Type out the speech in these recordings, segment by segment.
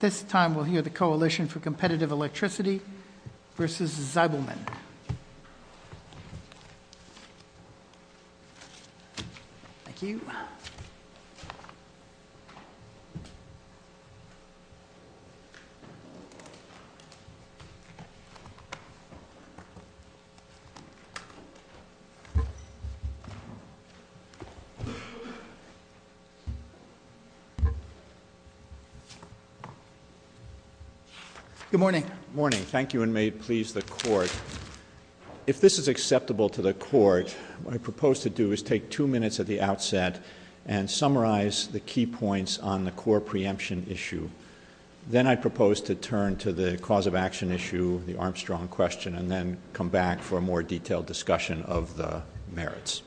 This time, we'll hear the Coalition for Competitive Electricity versus Zeibelman. Thank you. Good morning. Good morning. Thank you, and may it please the Court. If this is acceptable to the Court, what I propose to do is take two minutes at the outset and summarize the key points on the core preemption issue. Then I propose to turn to the cause of action issue, the Armstrong question, and then come back for a more detailed discussion of the merits.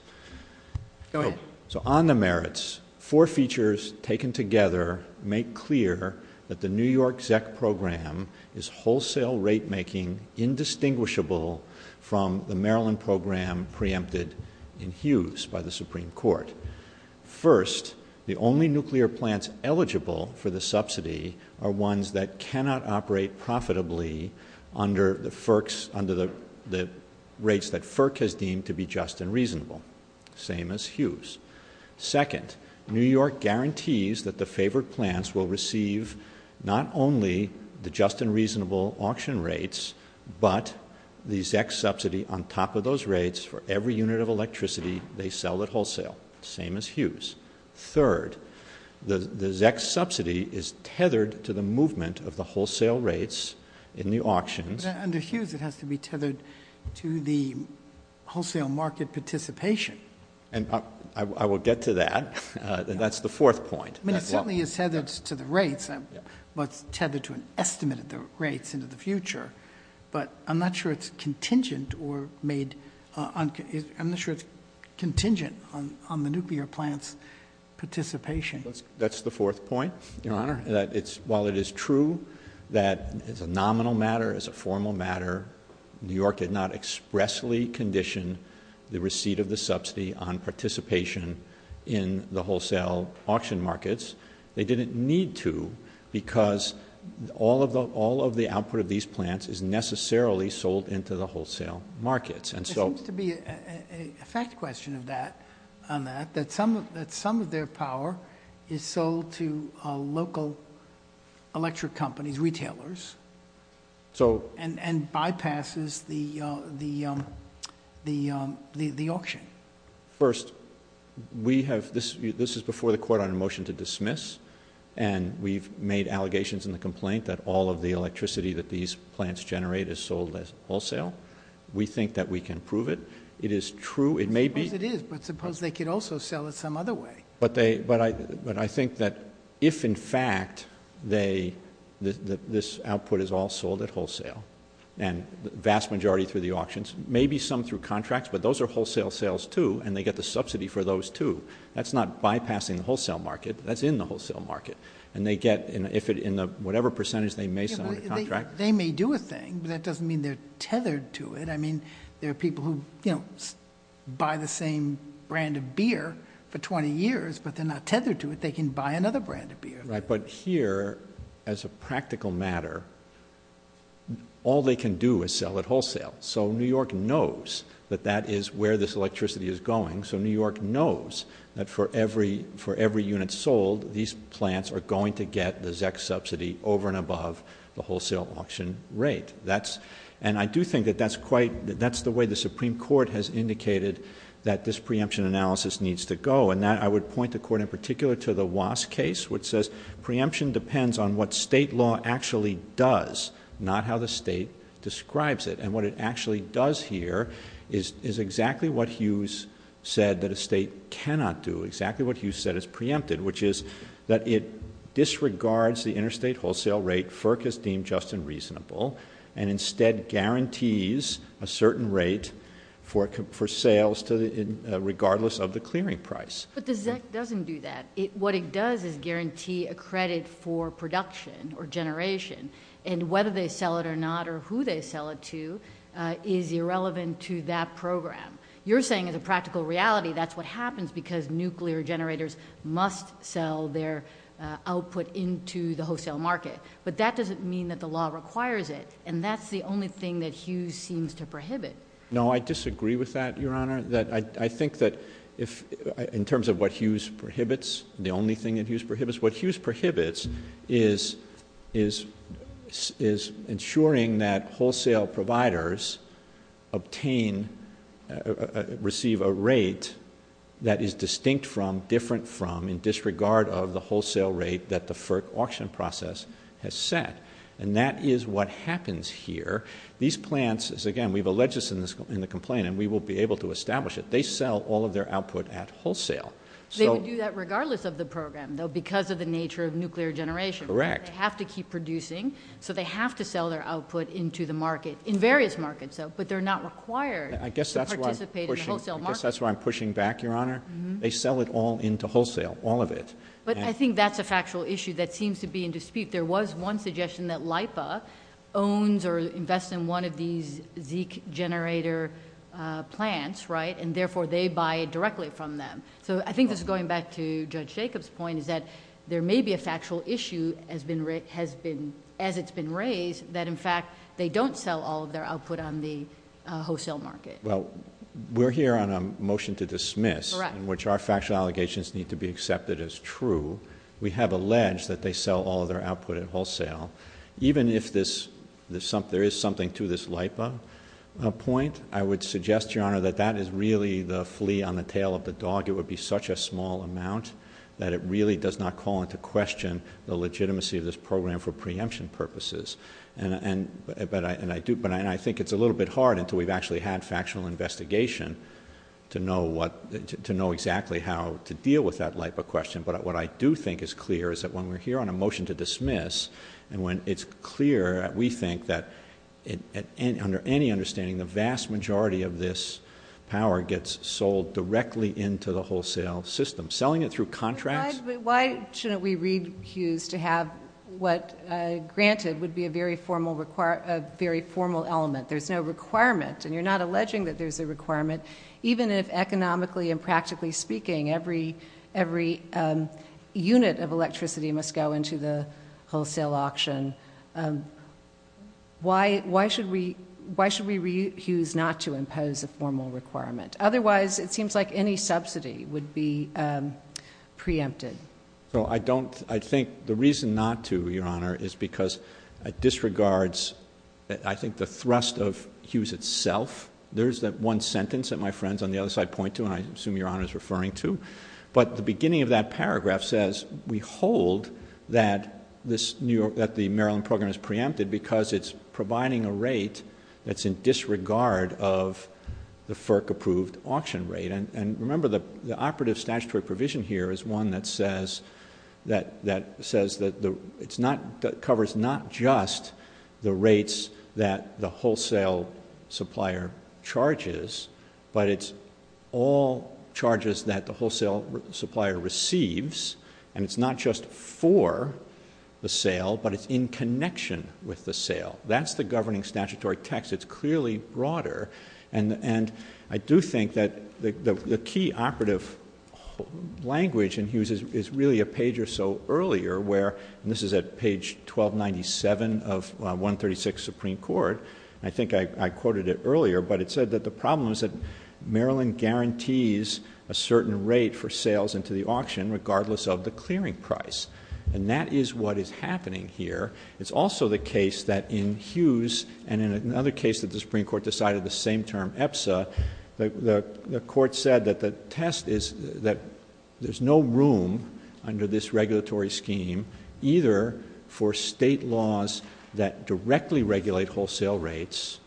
Go ahead. On the merits, four features taken together make clear that the New York ZEC program is wholesale rate-making indistinguishable from the Maryland program preempted in Hughes by the Supreme Court. First, the only nuclear plants eligible for the subsidy are ones that cannot operate profitably under the rates that FERC has deemed to be just and reasonable. Same as Hughes. Second, New York guarantees that the favored plants will receive not only the just and reasonable auction rates, but the ZEC subsidy on top of those rates for every unit of electricity they sell at wholesale. Same as Hughes. Third, the ZEC subsidy is tethered to the movement of the wholesale rates in the auctions. Under Hughes, it has to be tethered to the wholesale market participation. I will get to that. That's the fourth point. It certainly is tethered to the rates, but it's tethered to an estimate of the rates into the future. But I'm not sure it's contingent on the nuclear plants' participation. That's the fourth point, Your Honor. While it is true that it's a nominal matter, it's a formal matter, New York did not expressly condition the receipt of the subsidy on participation in the wholesale auction markets. They didn't need to because all of the output of these plants is necessarily sold into the wholesale markets. There seems to be a fact question on that, that some of their power is sold to local electric companies, retailers, and bypasses the auction. First, this is before the court on a motion to dismiss, and we've made allegations in the complaint that all of the electricity that these plants generate is sold at wholesale. We think that we can prove it. It is true. I suppose it is, but suppose they could also sell it some other way. But I think that if, in fact, this output is all sold at wholesale, and the vast majority through the auctions, maybe some through contracts, but those are wholesale sales, too, and they get the subsidy for those, too. That's not bypassing the wholesale market. That's in the wholesale market. And they get, in whatever percentage they may sell the contract. They may do a thing. That doesn't mean they're tethered to it. I mean, there are people who buy the same brand of beer for 20 years, but they're not tethered to it. They can buy another brand of beer. Right, but here, as a practical matter, all they can do is sell at wholesale. So New York knows that that is where this electricity is going. So New York knows that for every unit sold, these plants are going to get the ZEC subsidy over and above the wholesale auction rate. And I do think that that's the way the Supreme Court has indicated that this preemption analysis needs to go. And I would point the Court, in particular, to the Wass case, which says preemption depends on what state law actually does, not how the state describes it. And what it actually does here is exactly what Hughes said that a state cannot do, exactly what Hughes said is preempted, which is that it disregards the interstate wholesale rate FERC has deemed just and reasonable, and instead guarantees a certain rate for sales regardless of the clearing price. But the ZEC doesn't do that. What it does is guarantee a credit for production or generation. And whether they sell it or not or who they sell it to is irrelevant to that program. You're saying as a practical reality that's what happens because nuclear generators must sell their output into the wholesale market. But that doesn't mean that the law requires it, and that's the only thing that Hughes seems to prohibit. No, I disagree with that, Your Honor. I think that in terms of what Hughes prohibits, the only thing that Hughes prohibits, what Hughes prohibits is ensuring that wholesale providers obtain, receive a rate that is distinct from, different from, in disregard of the wholesale rate that the FERC auction process has set. And that is what happens here. These plants, as again, we've alleged this in the complaint, and we will be able to establish it, they sell all of their output at wholesale. They would do that regardless of the program, though, because of the nature of nuclear generation. Correct. They have to keep producing, so they have to sell their output into the market, in various markets, but they're not required to participate in the wholesale market. I guess that's why I'm pushing back, Your Honor. They sell it all into wholesale, all of it. But I think that's a factual issue that seems to be in dispute. There was one suggestion that LIPA owns or invests in one of these ZEKE generator plants, right, and therefore they buy directly from them. So I think this is going back to Judge Jacobs' point, is that there may be a factual issue as it's been raised that, in fact, they don't sell all of their output on the wholesale market. Well, we're here on a motion to dismiss... Correct.... in which our factual allegations need to be accepted as true. We have alleged that they sell all of their output at wholesale. Even if there is something to this LIPA point, I would suggest, Your Honor, that that is really the flea on the tail of the dog. It would be such a small amount that it really does not call into question the legitimacy of this program for preemption purposes. And I think it's a little bit hard until we've actually had factual investigation to know exactly how to deal with that LIPA question. But what I do think is clear is that when we're here on a motion to dismiss and when it's clear, we think that, under any understanding, the vast majority of this power gets sold directly into the wholesale system. Selling it through contracts... But why shouldn't we recuse to have what, granted, would be a very formal element? There's no requirement, and you're not alleging that there's a requirement, but even if, economically and practically speaking, every unit of electricity must go into the wholesale auction, why should we recuse not to impose a formal requirement? Otherwise, it seems like any subsidy would be preempted. So, I don't... I think the reason not to, Your Honor, is because it disregards, I think, the thrust of Hughes itself. There's that one sentence that my friends on the other side point to, and I assume Your Honor is referring to. But the beginning of that paragraph says, we hold that the Maryland program is preempted because it's providing a rate that's in disregard of the FERC-approved auction rate. And remember, the operative statutory provision here is one that says that it covers not just the rates that the wholesale supplier charges, but it's all charges that the wholesale supplier receives, and it's not just for the sale, but it's in connection with the sale. That's the governing statutory text. It's clearly broader. And I do think that the key operative language in Hughes is really a page or so earlier where, and this is at page 1297 of 136 Supreme Court, and I think I quoted it earlier, but it said that the problem is that Maryland guarantees a certain rate for sales into the auction, regardless of the clearing price. And that is what is happening here. It's also the case that in Hughes, and in another case that the Supreme Court decided the same term, EPSA, the Court said that the test is that there's no room under this regulatory scheme, either for state laws that directly regulate wholesale rates,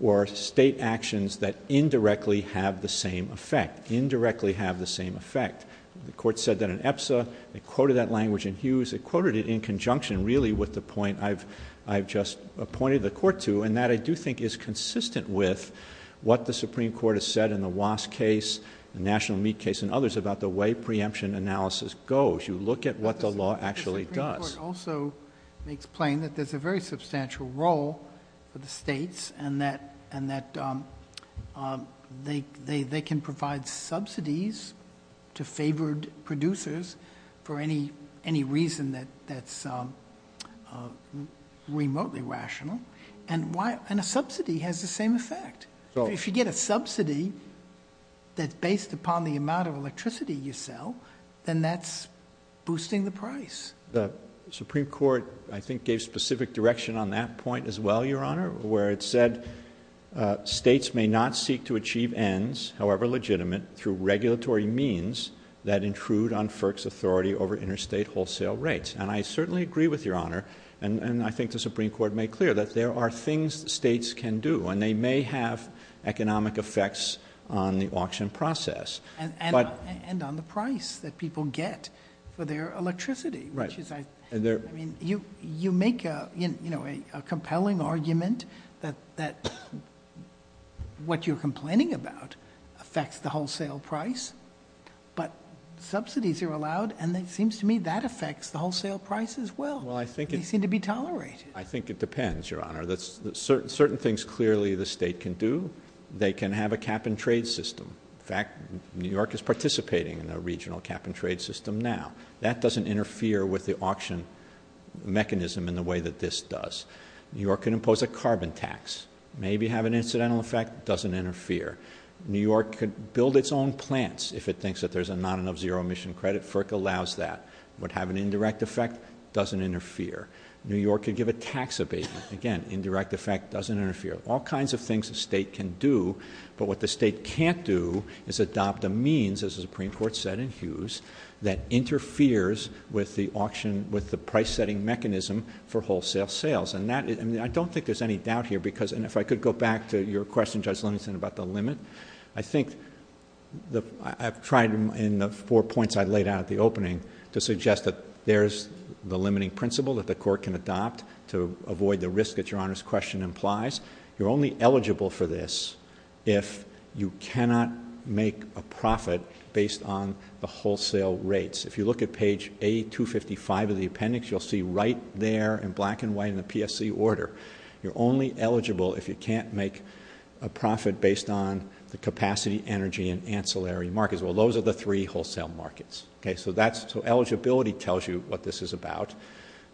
or state actions that indirectly have the same effect. Indirectly have the same effect. The Court said that in EPSA. It quoted that language in Hughes. It quoted it in conjunction, really, with the point I've just appointed the Court to, and that I do think is consistent with what the Supreme Court has said in the Wass case, the National Meat case, and others about the way preemption analysis goes. You look at what the law actually does. The Supreme Court also makes plain that there's a very substantial role for the states, and that they can provide subsidies to favored producers for any reason that's remotely rational, and a subsidy has the same effect. If you get a subsidy that's based upon the amount of electricity you sell, then that's boosting the price. The Supreme Court, I think, gave specific direction on that point as well, Your Honor, where it said states may not seek to achieve ends, however legitimate, through regulatory means that intrude on FERC's authority over interstate wholesale rates, and I certainly agree with Your Honor, and I think the Supreme Court made clear, that there are things states can do, and they may have economic effects on the auction process. And on the price that people get for their electricity. You make a compelling argument that what you're complaining about affects the wholesale price, but subsidies are allowed, and it seems to me that affects the wholesale price as well. They seem to be tolerated. I think it depends, Your Honor. Certain things clearly the state can do. They can have a cap-and-trade system. In fact, New York is participating in a regional cap-and-trade system now. That doesn't interfere with the auction mechanism in the way that this does. New York can impose a carbon tax. Maybe have an incidental effect, doesn't interfere. New York could build its own plants if it thinks that there's not enough zero-emission credit. FERC allows that. Would have an indirect effect, doesn't interfere. New York could give a tax abatement. Again, indirect effect, doesn't interfere. All kinds of things a state can do, but what the state can't do is adopt a means, as the Supreme Court said in Hughes, that interferes with the auction, with the price-setting mechanism for wholesale sales. And I don't think there's any doubt here because, and if I could go back to your question, Judge Livingston, about the limit. I think I've tried in the four points I laid out at the opening to suggest that there's the limiting principle, that the court can adopt to avoid the risk that Your Honor's question implies. You're only eligible for this if you cannot make a profit based on the wholesale rates. If you look at page A255 of the appendix, you'll see right there in black and white in the PSC order, you're only eligible if you can't make a profit based on the capacity, energy, and ancillary markets. Well, those are the three wholesale markets. Eligibility tells you what this is about.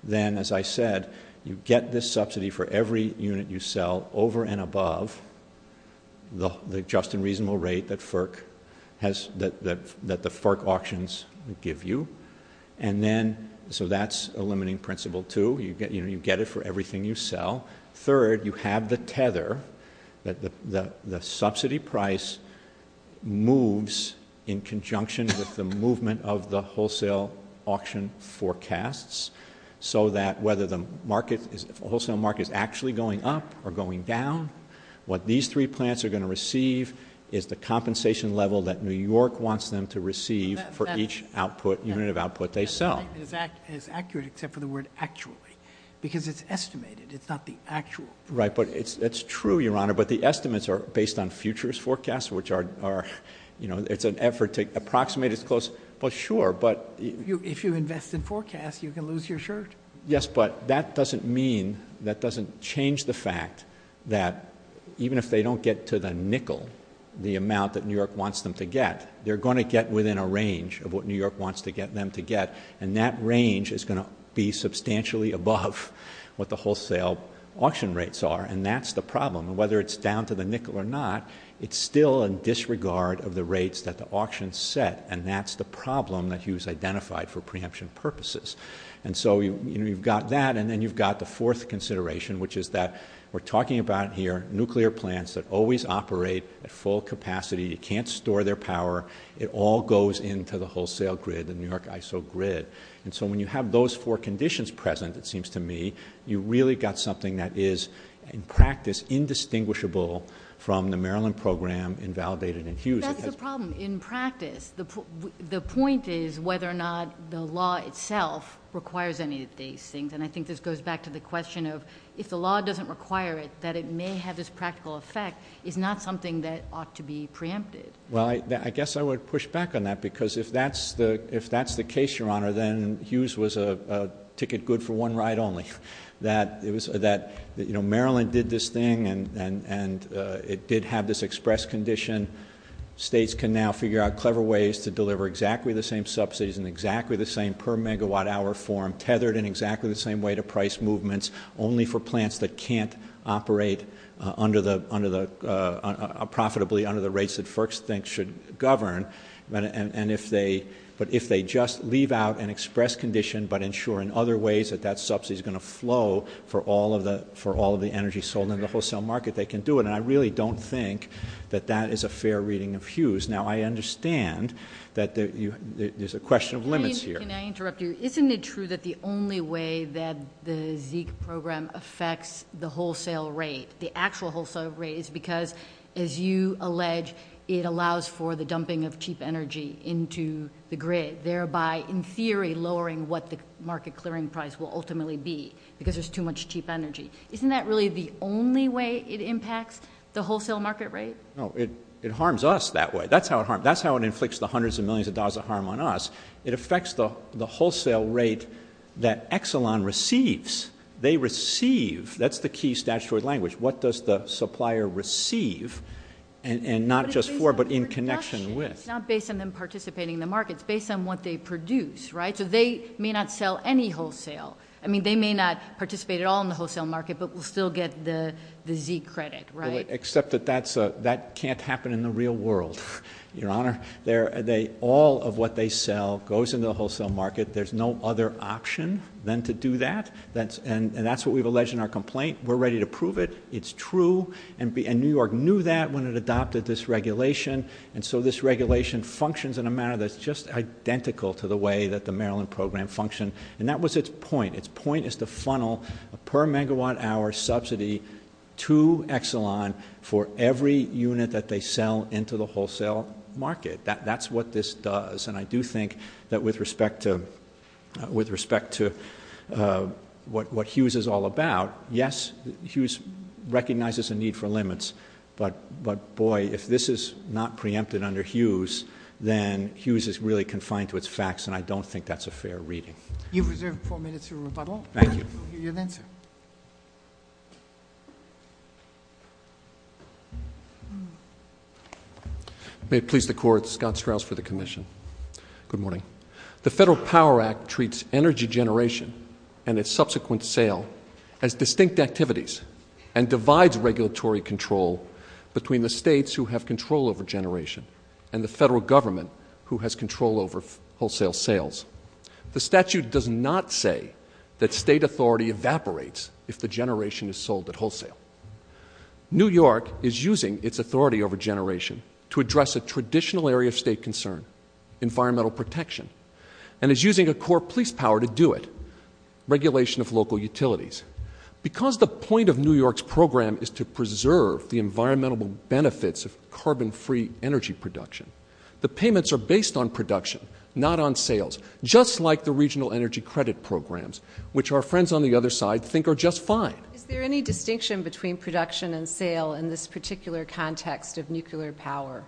Then, as I said, you get this subsidy for every unit you sell over and above the just and reasonable rate that FERC auctions give you. And then, so that's a limiting principle, too. Third, you have the tether that the subsidy price moves in conjunction with the movement of the wholesale auction forecasts, so that whether the wholesale market is actually going up or going down, what these three plants are going to receive is the compensation level that New York wants them to receive for each unit of output they sell. And it's accurate except for the word actually, because it's estimated. It's not the actual. Right, but it's true, Your Honor, but the estimates are based on futures forecasts, which are, you know, it's an effort to approximate as close. Well, sure, but... If you invest in forecasts, you can lose your shirt. Yes, but that doesn't mean, that doesn't change the fact that even if they don't get to the nickel, the amount that New York wants them to get, they're going to get within a range of what New York wants them to get, and that range is going to be substantially above what the wholesale auction rates are, and that's the problem. And whether it's down to the nickel or not, it's still in disregard of the rates that the auction set, and that's the problem that Hughes identified for preemption purposes. And so, you know, you've got that, and then you've got the fourth consideration, which is that we're talking about here nuclear plants that always operate at full capacity. You can't store their power. It all goes into the wholesale grid, the New York ISO grid, and so when you have those four conditions present, it seems to me, you've really got something that is, in practice, indistinguishable from the Maryland program invalidated in Hughes. That's the problem. In practice, the point is whether or not the law itself requires any of these things, and I think this goes back to the question of if the law doesn't require it, that it may have this practical effect is not something that ought to be preempted. Well, I guess I would push back on that, because if that's the case, Your Honor, then Hughes was a ticket good for one ride only. That, you know, Maryland did this thing, and it did have this express condition. States can now figure out clever ways to deliver exactly the same subsidies in exactly the same per-megawatt-hour form, tethered in exactly the same way to price movements, only for plants that can't operate profitably under the rates that FERC thinks should govern, but if they just leave out an express condition but ensure in other ways that that subsidy is going to flow for all of the energy sold in the wholesale market, they can do it, and I really don't think that that is a fair reading of Hughes. Now, I understand that there's a question of limits here. Can I interrupt you? Isn't it true that the only way that the ZEIC program affects the wholesale rate, the actual wholesale rate, is because, as you allege, it allows for the dumping of cheap energy into the grid, thereby in theory lowering what the market clearing price will ultimately be, because there's too much cheap energy. Isn't that really the only way it impacts the wholesale market rate? No. It harms us that way. That's how it harms us. That's how it inflicts the hundreds of millions of dollars of harm on us. It affects the wholesale rate that Exelon receives. They receive. That's the key statutory language. What does the supplier receive, and not just for, but in connection with? It's not based on them participating in the market. It's based on what they produce, right? So they may not sell any wholesale. I mean, they may not participate at all in the wholesale market, but will still get the ZEIC credit, right? Except that that can't happen in the real world, Your Honor. All of what they sell goes into the wholesale market. There's no other option than to do that. And that's what we've alleged in our complaint. We're ready to prove it. It's true. And New York knew that when it adopted this regulation. And so this regulation functions in a manner that's just identical to the way that the Maryland program functioned. And that was its point. Its point is to funnel a per megawatt hour subsidy to Exelon for every unit that they sell into the wholesale market. That's what this does. And I do think that with respect to what Hughes is all about, yes, Hughes recognizes a need for limits. But, boy, if this is not preempted under Hughes, then Hughes is really confined to its facts, and I don't think that's a fair reading. You've reserved four minutes for rebuttal. Thank you. You're then, sir. May it please the Court, Scott Strauss for the commission. Good morning. The Federal Power Act treats energy generation and its subsequent sale as distinct activities and divides regulatory control between the states who have control over generation and the federal government who has control over wholesale sales. The statute does not say that state authority evaporates if the generation is sold at wholesale. New York is using its authority over generation to address a traditional area of state concern, environmental protection, and is using a core police power to do it, regulation of local utilities. Because the point of New York's program is to preserve the environmental benefits of carbon-free energy production, the payments are based on production, not on sales, just like the regional energy credit programs, which our friends on the other side think are just fine. Is there any distinction between production and sale in this particular context of nuclear power?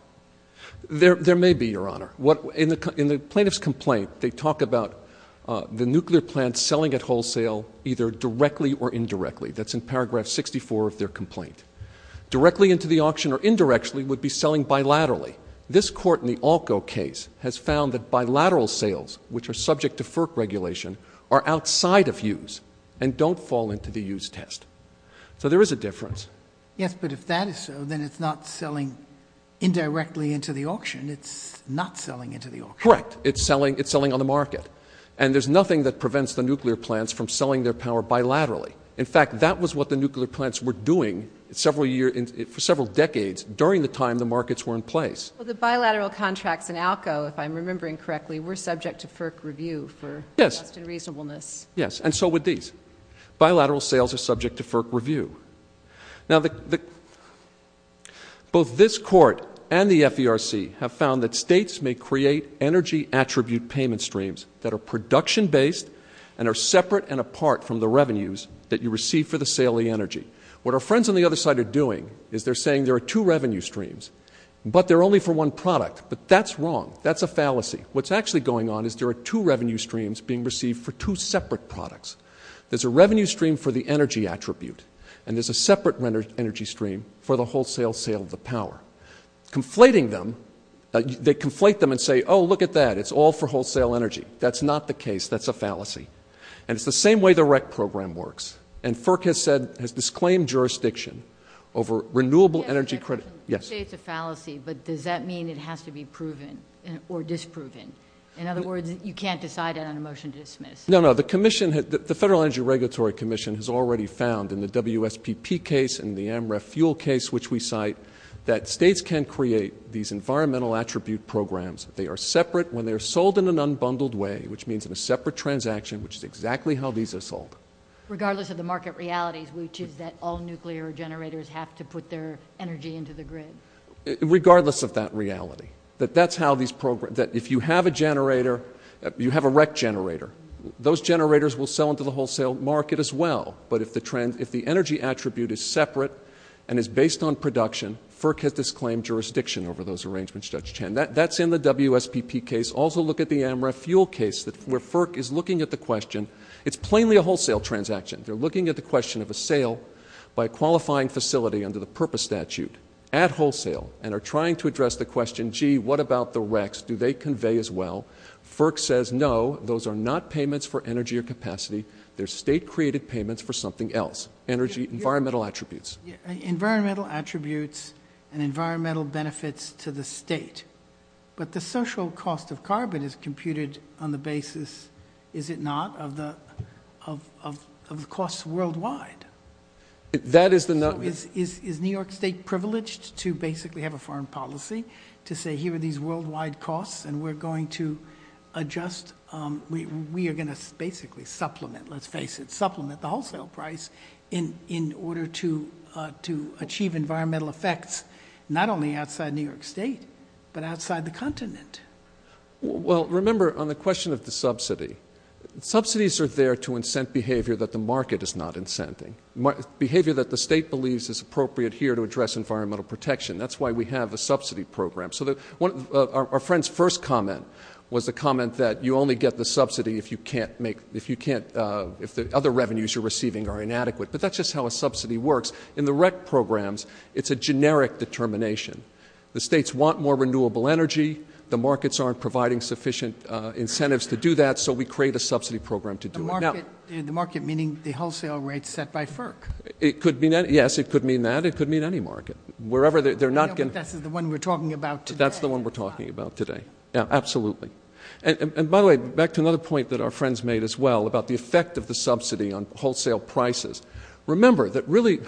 There may be, Your Honor. In the plaintiff's complaint, they talk about the nuclear plants selling at wholesale either directly or indirectly. That's in paragraph 64 of their complaint. Directly into the auction or indirectly would be selling bilaterally. This court in the ALCO case has found that bilateral sales, which are subject to FERC regulation, are outside of use and don't fall into the use test. So there is a difference. Yes, but if that is so, then it's not selling indirectly into the auction. It's not selling into the auction. Correct. It's selling on the market. And there's nothing that prevents the nuclear plants from selling their power bilaterally. In fact, that was what the nuclear plants were doing for several decades during the time the markets were in place. Well, the bilateral contracts in ALCO, if I'm remembering correctly, were subject to FERC review for just and reasonableness. Yes, and so were these. Bilateral sales are subject to FERC review. Now, both this court and the FERC have found that states may create energy attribute payment streams that are production-based and are separate and apart from the revenues that you receive for the sale of the energy. What our friends on the other side are doing is they're saying there are two revenue streams, but they're only for one product. But that's wrong. That's a fallacy. What's actually going on is there are two revenue streams being received for two separate products. There's a revenue stream for the energy attribute, and there's a separate energy stream for the wholesale sale of the power. Conflating them, they conflate them and say, oh, look at that, it's all for wholesale energy. That's not the case. That's a fallacy. And it's the same way the REC program works. And FERC has said, has disclaimed jurisdiction over renewable energy credit. Yes. You say it's a fallacy, but does that mean it has to be proven or disproven? In other words, you can't decide on a motion to dismiss. No, no. The commission, the Federal Energy Regulatory Commission has already found in the WSPP case and the AMREF fuel case, which we cite, that states can create these environmental attribute programs. They are separate when they're sold in an unbundled way, which means in a separate transaction, which is exactly how these are sold. Regardless of the market realities, which is that all nuclear generators have to put their energy into the grid. Regardless of that reality. That that's how these programs, that if you have a generator, you have a REC generator, those generators will sell into the wholesale market as well. But if the energy attribute is separate and is based on production, FERC has disclaimed jurisdiction over those arrangements, Judge Chan. That's in the WSPP case. Also look at the AMREF fuel case where FERC is looking at the question. It's plainly a wholesale transaction. They're looking at the question of a sale by a qualifying facility under the purpose statute at wholesale and are trying to address the question, gee, what about the RECs? Do they convey as well? FERC says, no, those are not payments for energy or capacity. They're state-created payments for something else. Energy, environmental attributes. Environmental attributes and environmental benefits to the state. But the social cost of carbon is computed on the basis, is it not, of the costs worldwide? Is New York State privileged to basically have a foreign policy to say here are these worldwide costs and we're going to adjust, we are going to basically supplement, let's face it, supplement the wholesale price in order to achieve environmental effects not only outside New York State but outside the continent. Well, remember, on the question of the subsidy, subsidies are there to incent behavior that the market is not incenting, behavior that the state believes is appropriate here to address environmental protection. That's why we have a subsidy program. So our friend's first comment was the comment that you only get the subsidy if you can't make, if the other revenues you're receiving are inadequate. But that's just how a subsidy works. In the REC programs, it's a generic determination. The states want more renewable energy. The markets aren't providing sufficient incentives to do that, so we create a subsidy program to do it. The market meaning the wholesale rates set by FERC. Yes, it could mean that. It could mean any market. This is the one we're talking about today. That's the one we're talking about today. Yeah, absolutely. And by the way, back to another point that our friends made as well about the effect of the subsidy on wholesale prices. Remember that really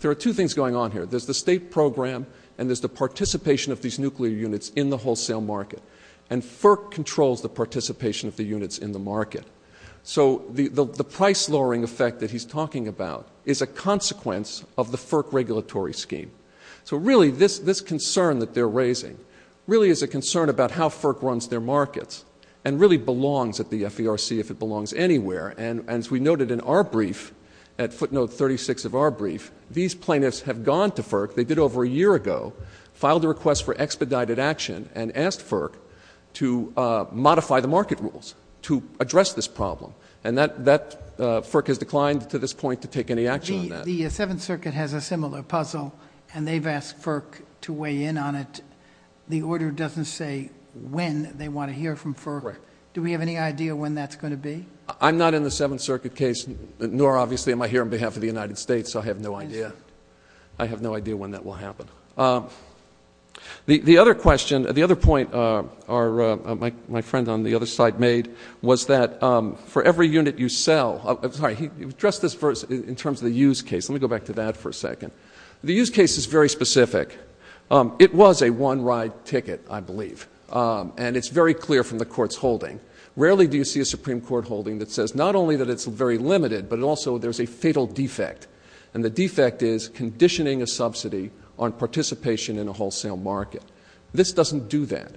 there are two things going on here. There's the state program and there's the participation of these nuclear units in the wholesale market, and FERC controls the participation of the units in the market. So the price lowering effect that he's talking about is a consequence of the FERC regulatory scheme. So really this concern that they're raising really is a concern about how FERC runs their markets and really belongs at the FERC if it belongs anywhere. And as we noted in our brief, at footnote 36 of our brief, these plaintiffs have gone to FERC. They did over a year ago, filed a request for expedited action, and asked FERC to modify the market rules to address this problem. And FERC has declined to this point to take any action on that. The Seventh Circuit has a similar puzzle, and they've asked FERC to weigh in on it. The order doesn't say when they want to hear from FERC. Do we have any idea when that's going to be? I'm not in the Seventh Circuit case, nor obviously am I here on behalf of the United States, so I have no idea. I have no idea when that will happen. The other question, the other point my friend on the other side made was that for every unit you sell, I'm sorry, he addressed this in terms of the use case. Let me go back to that for a second. The use case is very specific. It was a one-ride ticket, I believe, and it's very clear from the Court's holding. Rarely do you see a Supreme Court holding that says not only that it's very limited, but also there's a fatal defect, and the defect is conditioning a subsidy on participation in a wholesale market. This doesn't do that.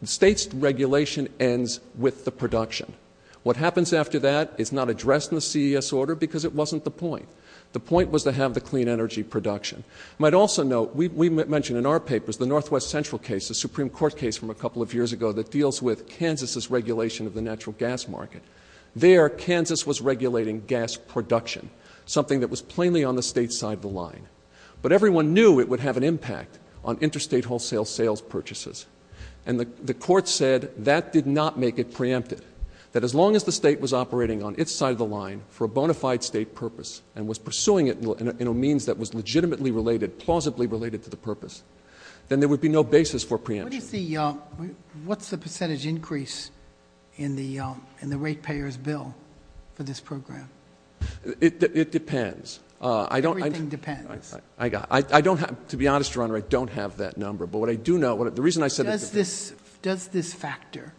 The state's regulation ends with the production. What happens after that is not addressed in the CES order because it wasn't the point. The point was to have the clean energy production. You might also note we mentioned in our papers the Northwest Central case, the Supreme Court case from a couple of years ago that deals with Kansas's regulation of the natural gas market. There, Kansas was regulating gas production, something that was plainly on the state's side of the line. But everyone knew it would have an impact on interstate wholesale sales purchases, and the Court said that did not make it preempted, that as long as the state was operating on its side of the line for a bona fide state purpose and was pursuing it in a means that was legitimately related, plausibly related to the purpose, then there would be no basis for preemption. What's the percentage increase in the rate payers' bill for this program? It depends. Everything depends. To be honest, Your Honor, I don't have that number. But what I do know, the reason I said it depends. Does this factor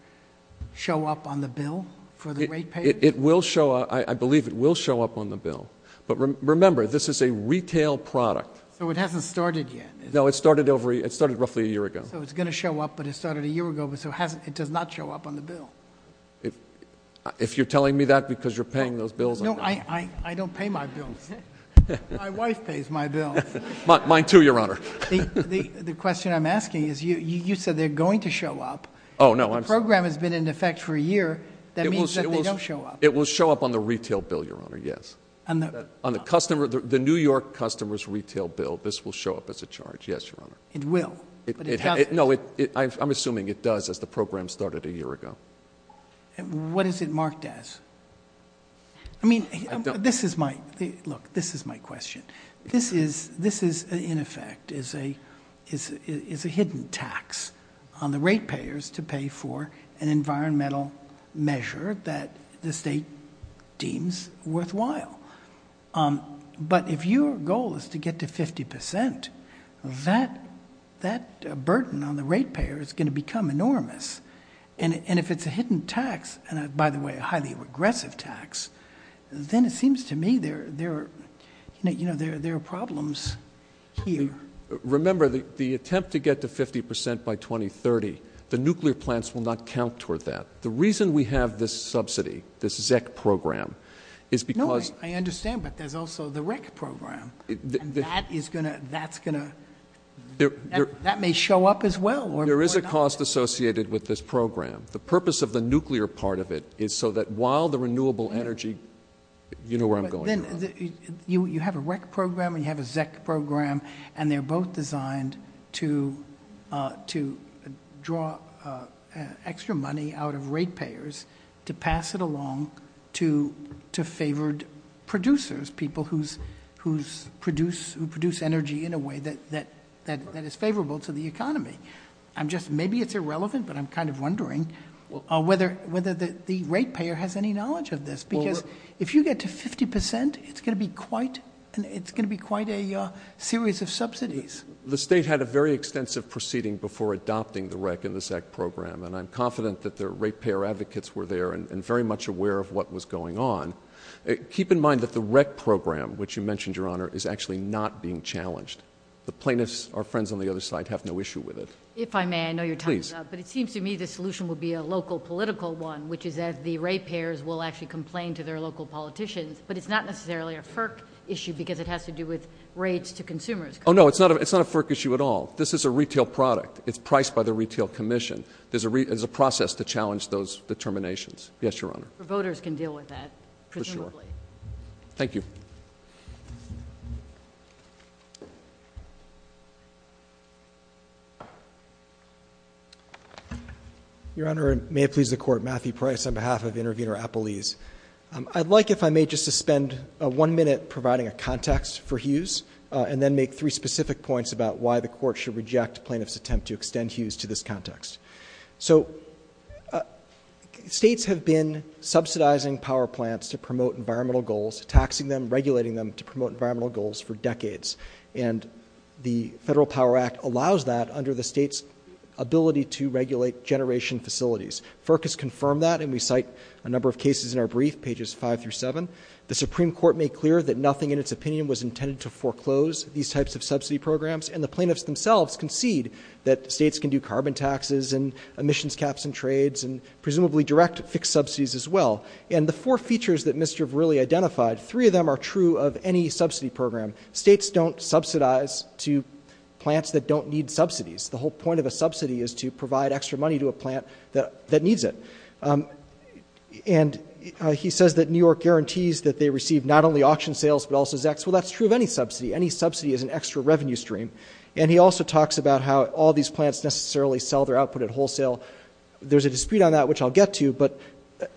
show up on the bill for the rate payers? It will show up. I believe it will show up on the bill. But remember, this is a retail product. So it hasn't started yet. No, it started roughly a year ago. So it's going to show up, but it started a year ago. So it does not show up on the bill. If you're telling me that because you're paying those bills. No, I don't pay my bills. My wife pays my bills. Mine too, Your Honor. The question I'm asking is you said they're going to show up. Oh, no. The program has been in effect for a year. That means that they don't show up. It will show up on the retail bill, Your Honor, yes. On the New York customer's retail bill, this will show up as a charge, yes, Your Honor. It will. No, I'm assuming it does as the program started a year ago. What is it marked as? I mean, this is my question. This is, in effect, is a hidden tax on the rate payers to pay for an environmental measure that the state deems worthwhile. But if your goal is to get to 50%, that burden on the rate payer is going to become enormous. And if it's a hidden tax, and, by the way, a highly regressive tax, then it seems to me there are problems here. Remember, the attempt to get to 50% by 2030, the nuclear plants will not count toward that. The reason we have this subsidy, this ZEC program, is because- No, I understand, but there's also the REC program. And that is going to, that's going to, that may show up as well. There is a cost associated with this program. The purpose of the nuclear part of it is so that while the renewable energy, you know where I'm going, Your Honor. You have a REC program and you have a ZEC program, and they're both designed to draw extra money out of rate payers to pass it along to favored producers, people who produce energy in a way that is favorable to the economy. I'm just, maybe it's irrelevant, but I'm kind of wondering whether the rate payer has any knowledge of this. Because if you get to 50%, it's going to be quite, it's going to be quite a series of subsidies. The state had a very extensive proceeding before adopting the REC and the ZEC program, and I'm confident that the rate payer advocates were there and very much aware of what was going on. Keep in mind that the REC program, which you mentioned, Your Honor, is actually not being challenged. The plaintiffs, our friends on the other side, have no issue with it. If I may, I know you're talking about- Please. which is that the rate payers will actually complain to their local politicians, but it's not necessarily a FERC issue because it has to do with rates to consumers. Oh, no, it's not a FERC issue at all. This is a retail product. It's priced by the retail commission. There's a process to challenge those determinations. Yes, Your Honor. Voters can deal with that, presumably. For sure. Thank you. Your Honor, may it please the Court, Matthew Price on behalf of Intervenor Appelese. I'd like, if I may, just to spend one minute providing a context for Hughes and then make three specific points about why the Court should reject plaintiffs' attempt to extend Hughes to this context. So states have been subsidizing power plants to promote environmental goals, taxing them, regulating them to promote environmental goals for decades. And the Federal Power Act allows that under the state's ability to regulate generation facilities. FERC has confirmed that, and we cite a number of cases in our brief, pages 5 through 7. The Supreme Court made clear that nothing in its opinion was intended to foreclose these types of subsidy programs, and the plaintiffs themselves concede that states can do carbon taxes and emissions caps and trades and presumably direct fixed subsidies as well. And the four features that Mischief really identified, three of them are true of any subsidy program. States don't subsidize to plants that don't need subsidies. The whole point of a subsidy is to provide extra money to a plant that needs it. And he says that New York guarantees that they receive not only auction sales but also ZEX. Well, that's true of any subsidy. Any subsidy is an extra revenue stream. And he also talks about how all these plants necessarily sell their output at wholesale. There's a dispute on that, which I'll get to, but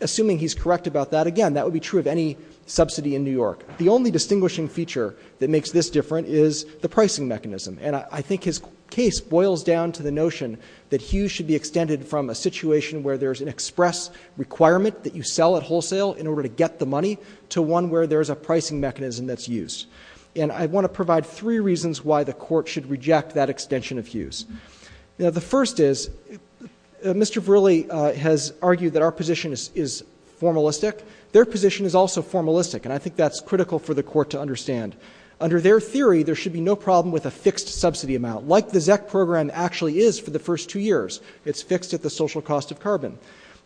assuming he's correct about that, again, that would be true of any subsidy in New York. The only distinguishing feature that makes this different is the pricing mechanism. And I think his case boils down to the notion that Hughes should be extended from a situation where there's an express requirement that you sell at wholesale in order to get the money to one where there's a pricing mechanism that's used. And I want to provide three reasons why the Court should reject that extension of Hughes. Now, the first is Mr. Verrilli has argued that our position is formalistic. Their position is also formalistic, and I think that's critical for the Court to understand. Under their theory, there should be no problem with a fixed subsidy amount, like the ZEX program actually is for the first two years. It's fixed at the social cost of carbon.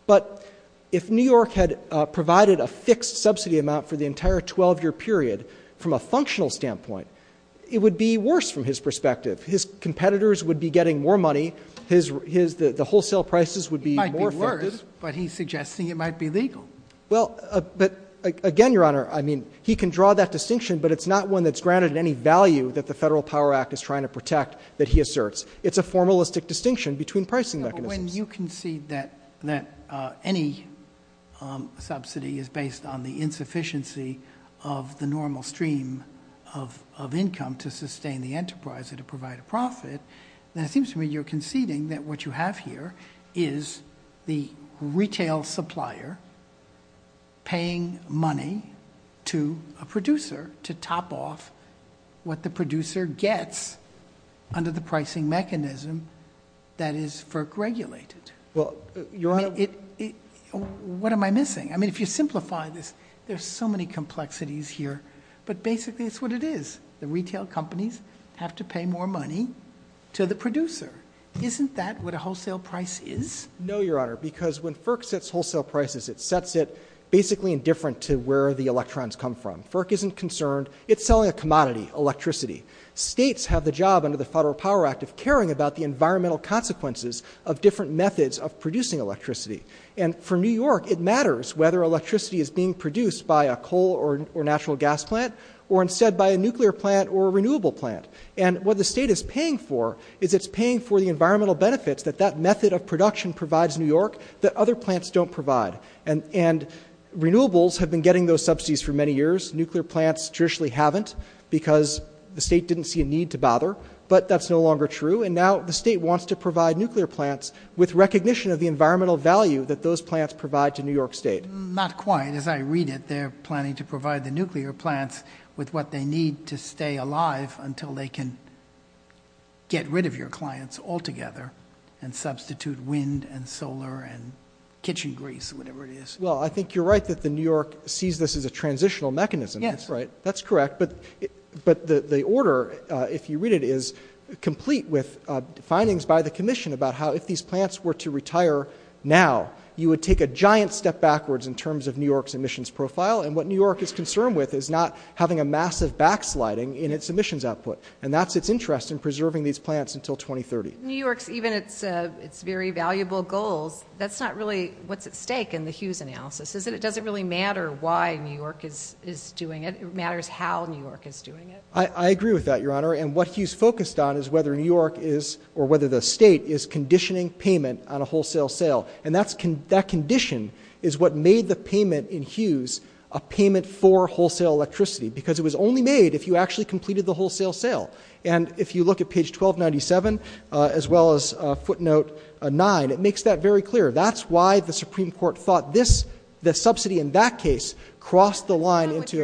But if New York had provided a fixed subsidy amount for the entire 12-year period from a functional standpoint, it would be worse from his perspective. His competitors would be getting more money. The wholesale prices would be more affected. It might be worse, but he's suggesting it might be legal. Well, but again, Your Honor, I mean, he can draw that distinction, but it's not one that's granted any value that the Federal Power Act is trying to protect that he asserts. It's a formalistic distinction between pricing mechanisms. Yeah, but when you concede that any subsidy is based on the insufficiency of the normal stream of income to sustain the enterprise or to provide a profit, then it seems to me you're conceding that what you have here is the retail supplier paying money to a producer to top off what the producer gets under the pricing mechanism that is FERC-regulated. Well, Your Honor— What am I missing? I mean, if you simplify this, there's so many complexities here, but basically it's what it is. The retail companies have to pay more money to the producer. Isn't that what a wholesale price is? No, Your Honor, because when FERC sets wholesale prices, it sets it basically indifferent to where the electrons come from. FERC isn't concerned. It's selling a commodity, electricity. States have the job under the Federal Power Act of caring about the environmental consequences of different methods of producing electricity. And for New York, it matters whether electricity is being produced by a coal or natural gas plant or instead by a nuclear plant or a renewable plant. And what the state is paying for is it's paying for the environmental benefits that that method of production provides New York that other plants don't provide. And renewables have been getting those subsidies for many years. Nuclear plants traditionally haven't because the state didn't see a need to bother. But that's no longer true, and now the state wants to provide nuclear plants with recognition of the environmental value that those plants provide to New York State. Not quite. As I read it, they're planning to provide the nuclear plants with what they need to stay alive until they can get rid of your clients altogether and substitute wind and solar and kitchen grease, whatever it is. Well, I think you're right that New York sees this as a transitional mechanism. That's right. That's correct. But the order, if you read it, is complete with findings by the commission about how if these plants were to retire now, you would take a giant step backwards in terms of New York's emissions profile. And what New York is concerned with is not having a massive backsliding in its emissions output. And that's its interest in preserving these plants until 2030. New York's, even its very valuable goals, that's not really what's at stake in the Hughes analysis, is it? It doesn't really matter why New York is doing it. It matters how New York is doing it. I agree with that, Your Honor. And what Hughes focused on is whether New York is or whether the state is conditioning payment on a wholesale sale. And that condition is what made the payment in Hughes a payment for wholesale electricity, because it was only made if you actually completed the wholesale sale. And if you look at page 1297, as well as footnote 9, it makes that very clear. That's why the Supreme Court thought this, the subsidy in that case, crossed the line into a-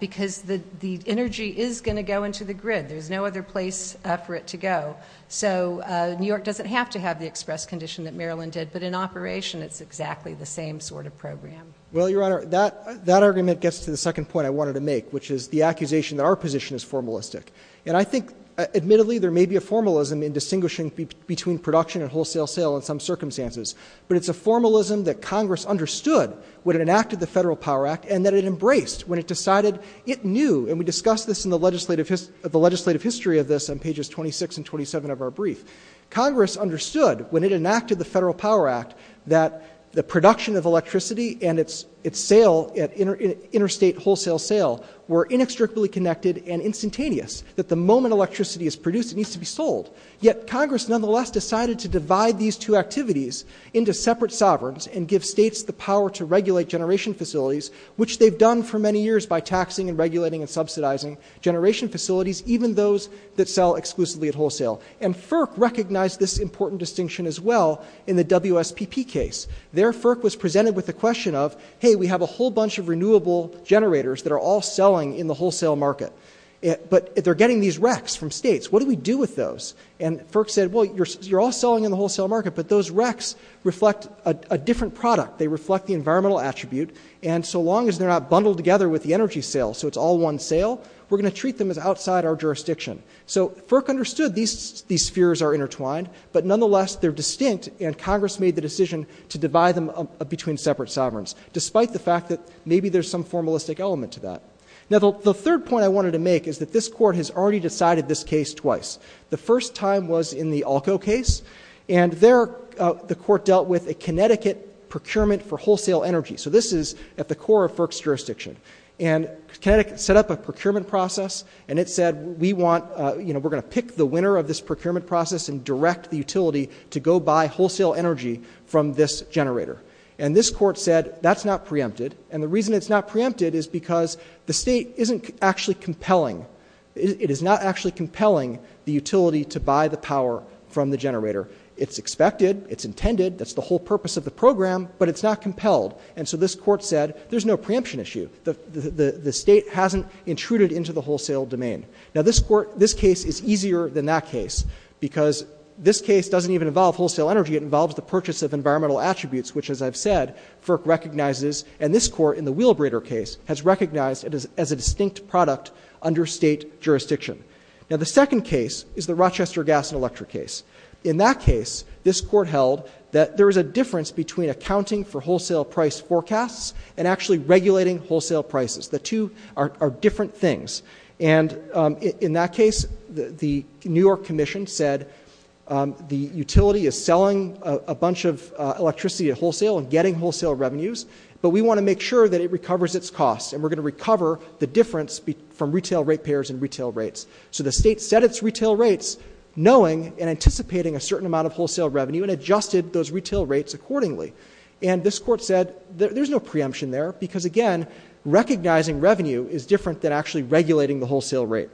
because the energy is going to go into the grid. There's no other place for it to go. So New York doesn't have to have the express condition that Maryland did. But in operation, it's exactly the same sort of program. Well, Your Honor, that argument gets to the second point I wanted to make, which is the accusation that our position is formalistic. And I think, admittedly, there may be a formalism in distinguishing between production and wholesale sale in some circumstances. But it's a formalism that Congress understood when it enacted the Federal Power Act, and that it embraced when it decided it knew. And we discussed this in the legislative history of this on pages 26 and 27 of our brief. Congress understood, when it enacted the Federal Power Act, that the production of electricity and its sale, interstate wholesale sale, were inextricably connected and instantaneous, that the moment electricity is produced, it needs to be sold. Yet Congress, nonetheless, decided to divide these two activities into separate sovereigns and give states the power to regulate generation facilities, which they've done for many years by taxing and regulating and subsidizing generation facilities, even those that sell exclusively at wholesale. And FERC recognized this important distinction as well in the WSPP case. There, FERC was presented with the question of, hey, we have a whole bunch of renewable generators that are all selling in the wholesale market. But they're getting these RECs from states. What do we do with those? And FERC said, well, you're all selling in the wholesale market, but those RECs reflect a different product. They reflect the environmental attribute, and so long as they're not bundled together with the energy sale so it's all one sale, we're going to treat them as outside our jurisdiction. So FERC understood these spheres are intertwined, but nonetheless, they're distinct, and Congress made the decision to divide them between separate sovereigns, despite the fact that maybe there's some formalistic element to that. Now, the third point I wanted to make is that this court has already decided this case twice. The first time was in the ALCO case, and there the court dealt with a Connecticut procurement for wholesale energy. So this is at the core of FERC's jurisdiction. And Connecticut set up a procurement process, and it said we're going to pick the winner of this procurement process and direct the utility to go buy wholesale energy from this generator. And this court said that's not preempted, and the reason it's not preempted is because the state isn't actually compelling. It is not actually compelling the utility to buy the power from the generator. It's expected. It's intended. That's the whole purpose of the program, but it's not compelled. And so this court said there's no preemption issue. The state hasn't intruded into the wholesale domain. Now, this case is easier than that case because this case doesn't even involve wholesale energy. It involves the purchase of environmental attributes, which, as I've said, FERC recognizes, and this court in the wheelbraider case has recognized it as a distinct product under state jurisdiction. Now, the second case is the Rochester gas and electric case. In that case, this court held that there is a difference between accounting for wholesale price forecasts and actually regulating wholesale prices. The two are different things. And in that case, the New York Commission said the utility is selling a bunch of electricity at wholesale and getting wholesale revenues, but we want to make sure that it recovers its costs and we're going to recover the difference from retail rate payers and retail rates. So the state set its retail rates knowing and anticipating a certain amount of wholesale revenue and adjusted those retail rates accordingly. And this court said there's no preemption there because, again, recognizing revenue is different than actually regulating the wholesale rate.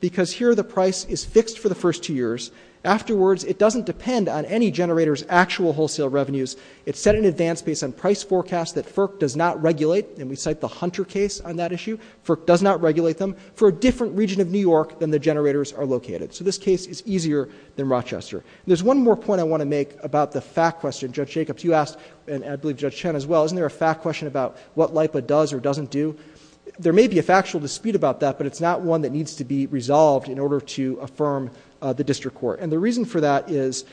because here the price is fixed for the first two years. Afterwards, it doesn't depend on any generator's actual wholesale revenues. It's set an advance base on price forecasts that FERC does not regulate, and we cite the Hunter case on that issue. FERC does not regulate them for a different region of New York than the generators are located. So this case is easier than Rochester. There's one more point I want to make about the fact question. Judge Jacobs, you asked, and I believe Judge Chen as well, isn't there a fact question about what LIPA does or doesn't do? There may be a factual dispute about that, but it's not one that needs to be resolved in order to affirm the district court. And the reason for that is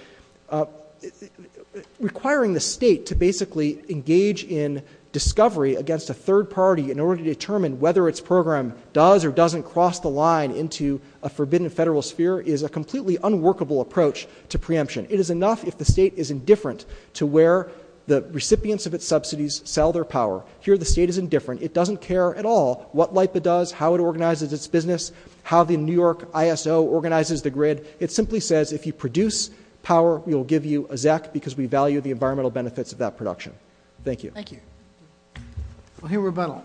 requiring the state to basically engage in discovery against a third party in order to determine whether its program does or doesn't cross the line into a forbidden federal sphere is a completely unworkable approach to preemption. It is enough if the state is indifferent to where the recipients of its subsidies sell their power. Here the state is indifferent. It doesn't care at all what LIPA does, how it organizes its business, how the New York ISO organizes the grid. It simply says if you produce power, we will give you a ZEC because we value the environmental benefits of that production. Thank you. Thank you. We'll hear rebuttal.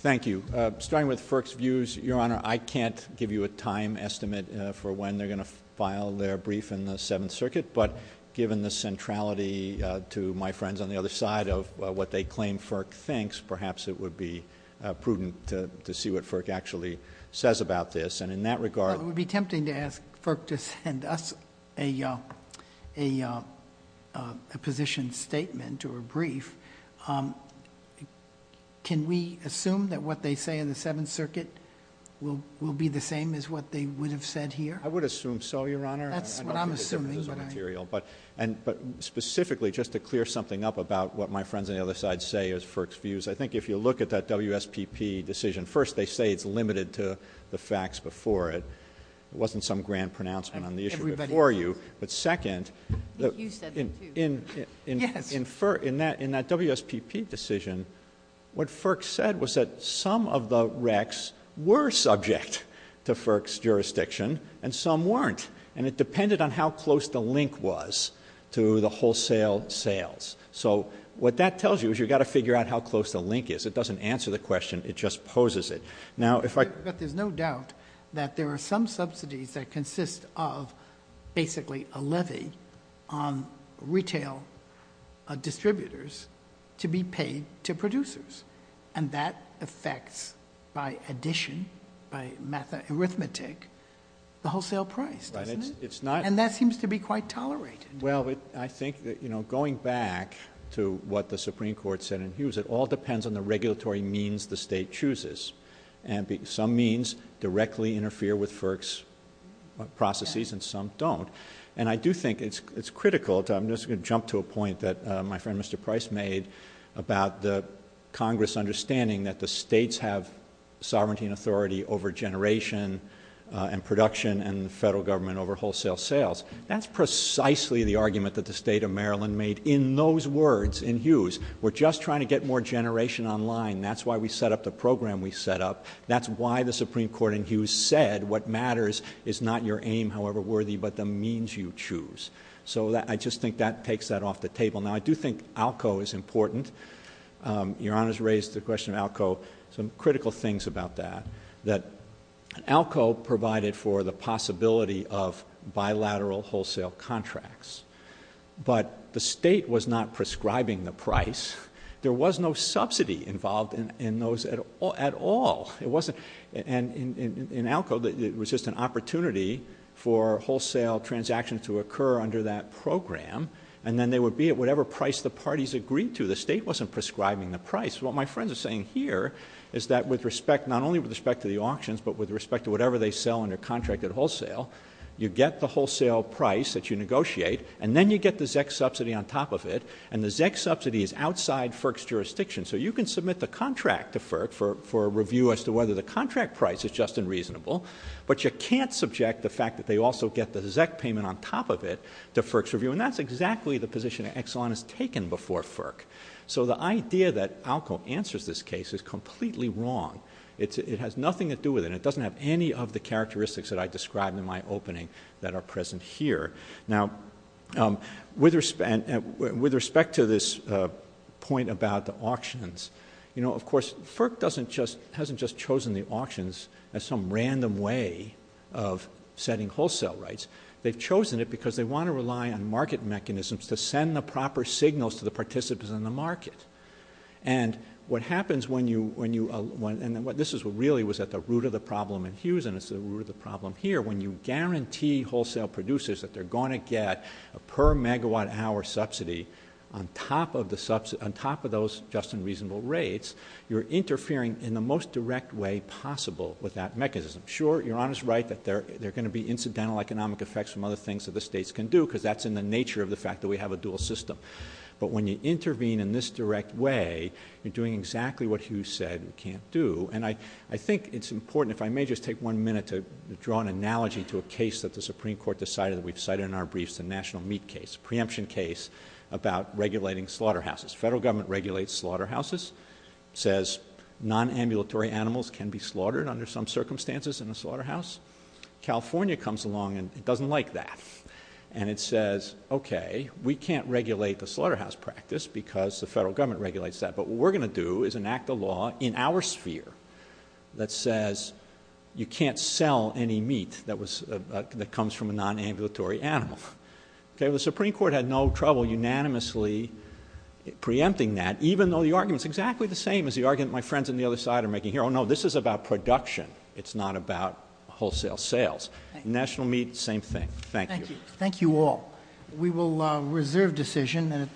Thank you. Starting with FERC's views, Your Honor, I can't give you a time estimate for when they're going to file their brief in the Seventh Circuit, but given the centrality to my friends on the other side of what they claim FERC thinks, perhaps it would be prudent to see what FERC actually says about this. And in that regard... But it would be tempting to ask FERC to send us a position statement or a brief. Can we assume that what they say in the Seventh Circuit will be the same as what they would have said here? I would assume so, Your Honor. That's what I'm assuming. But specifically, just to clear something up about what my friends on the other side say is FERC's views, I think if you look at that WSPP decision, first, they say it's limited to the facts before it. It wasn't some grand pronouncement on the issue before you. But second... I think you said that too. Yes. In that WSPP decision, what FERC said was that some of the RECs were subject to FERC's jurisdiction and some weren't, and it depended on how close the link was to the wholesale sales. So what that tells you is you've got to figure out how close the link is. It doesn't answer the question, it just poses it. But there's no doubt that there are some subsidies that consist of basically a levy on retail distributors to be paid to producers, and that affects, by addition, by arithmetic, the wholesale price, doesn't it? And that seems to be quite tolerated. Well, I think, you know, going back to what the Supreme Court said in Hughes, it all depends on the regulatory means the state chooses. Some means directly interfere with FERC's processes and some don't. And I do think it's critical, I'm just going to jump to a point that my friend Mr. Price made about the Congress understanding that the states have sovereignty and authority over generation and production and the federal government over wholesale sales. That's precisely the argument that the state of Maryland made in those words in Hughes. We're just trying to get more generation online. That's why we set up the program we set up. That's why the Supreme Court in Hughes said what matters is not your aim, however worthy, but the means you choose. So I just think that takes that off the table. Now, I do think ALCO is important. Your Honor's raised the question of ALCO. Some critical things about that, that ALCO provided for the possibility of bilateral wholesale contracts, but the state was not prescribing the price. There was no subsidy involved in those at all. And in ALCO, it was just an opportunity for wholesale transactions to occur under that program, and then they would be at whatever price the parties agreed to. The state wasn't prescribing the price. What my friends are saying here is that with respect, not only with respect to the auctions, but with respect to whatever they sell under contract at wholesale, you get the wholesale price that you negotiate, and then you get the ZEC subsidy on top of it, and the ZEC subsidy is outside FERC's jurisdiction. So you can submit the contract to FERC for review as to whether the contract price is just and reasonable, but you can't subject the fact that they also get the ZEC payment on top of it to FERC's review, and that's exactly the position Exelon has taken before FERC. So the idea that ALCO answers this case is completely wrong. It has nothing to do with it, and it doesn't have any of the characteristics that I described in my opening that are present here. Now, with respect to this point about the auctions, you know, of course, FERC hasn't just chosen the auctions as some random way of setting wholesale rights. They've chosen it because they want to rely on market mechanisms to send the proper signals to the participants in the market. And what happens when you... And this really was at the root of the problem in Hughes, and it's the root of the problem here. When you guarantee wholesale producers that they're going to get a per-megawatt-hour subsidy on top of those just and reasonable rates, you're interfering in the most direct way possible with that mechanism. Sure, Your Honor's right that there are going to be incidental economic effects from other things that the states can do because that's in the nature of the fact that we have a dual system. But when you intervene in this direct way, you're doing exactly what Hughes said we can't do. And I think it's important, if I may just take one minute, to draw an analogy to a case that the Supreme Court decided that we've cited in our briefs, the National Meat case, a preemption case about regulating slaughterhouses. The federal government regulates slaughterhouses, says nonambulatory animals can be slaughtered under some circumstances in a slaughterhouse. California comes along and it doesn't like that. And it says, okay, we can't regulate the slaughterhouse practice because the federal government regulates that, but what we're going to do is enact a law in our sphere that says you can't sell any meat that comes from a nonambulatory animal. The Supreme Court had no trouble unanimously preempting that, even though the argument's exactly the same as the argument my friends on the other side are making here. Oh, no, this is about production. It's not about wholesale sales. National Meat, same thing. Thank you. Thank you all. We will reserve decision.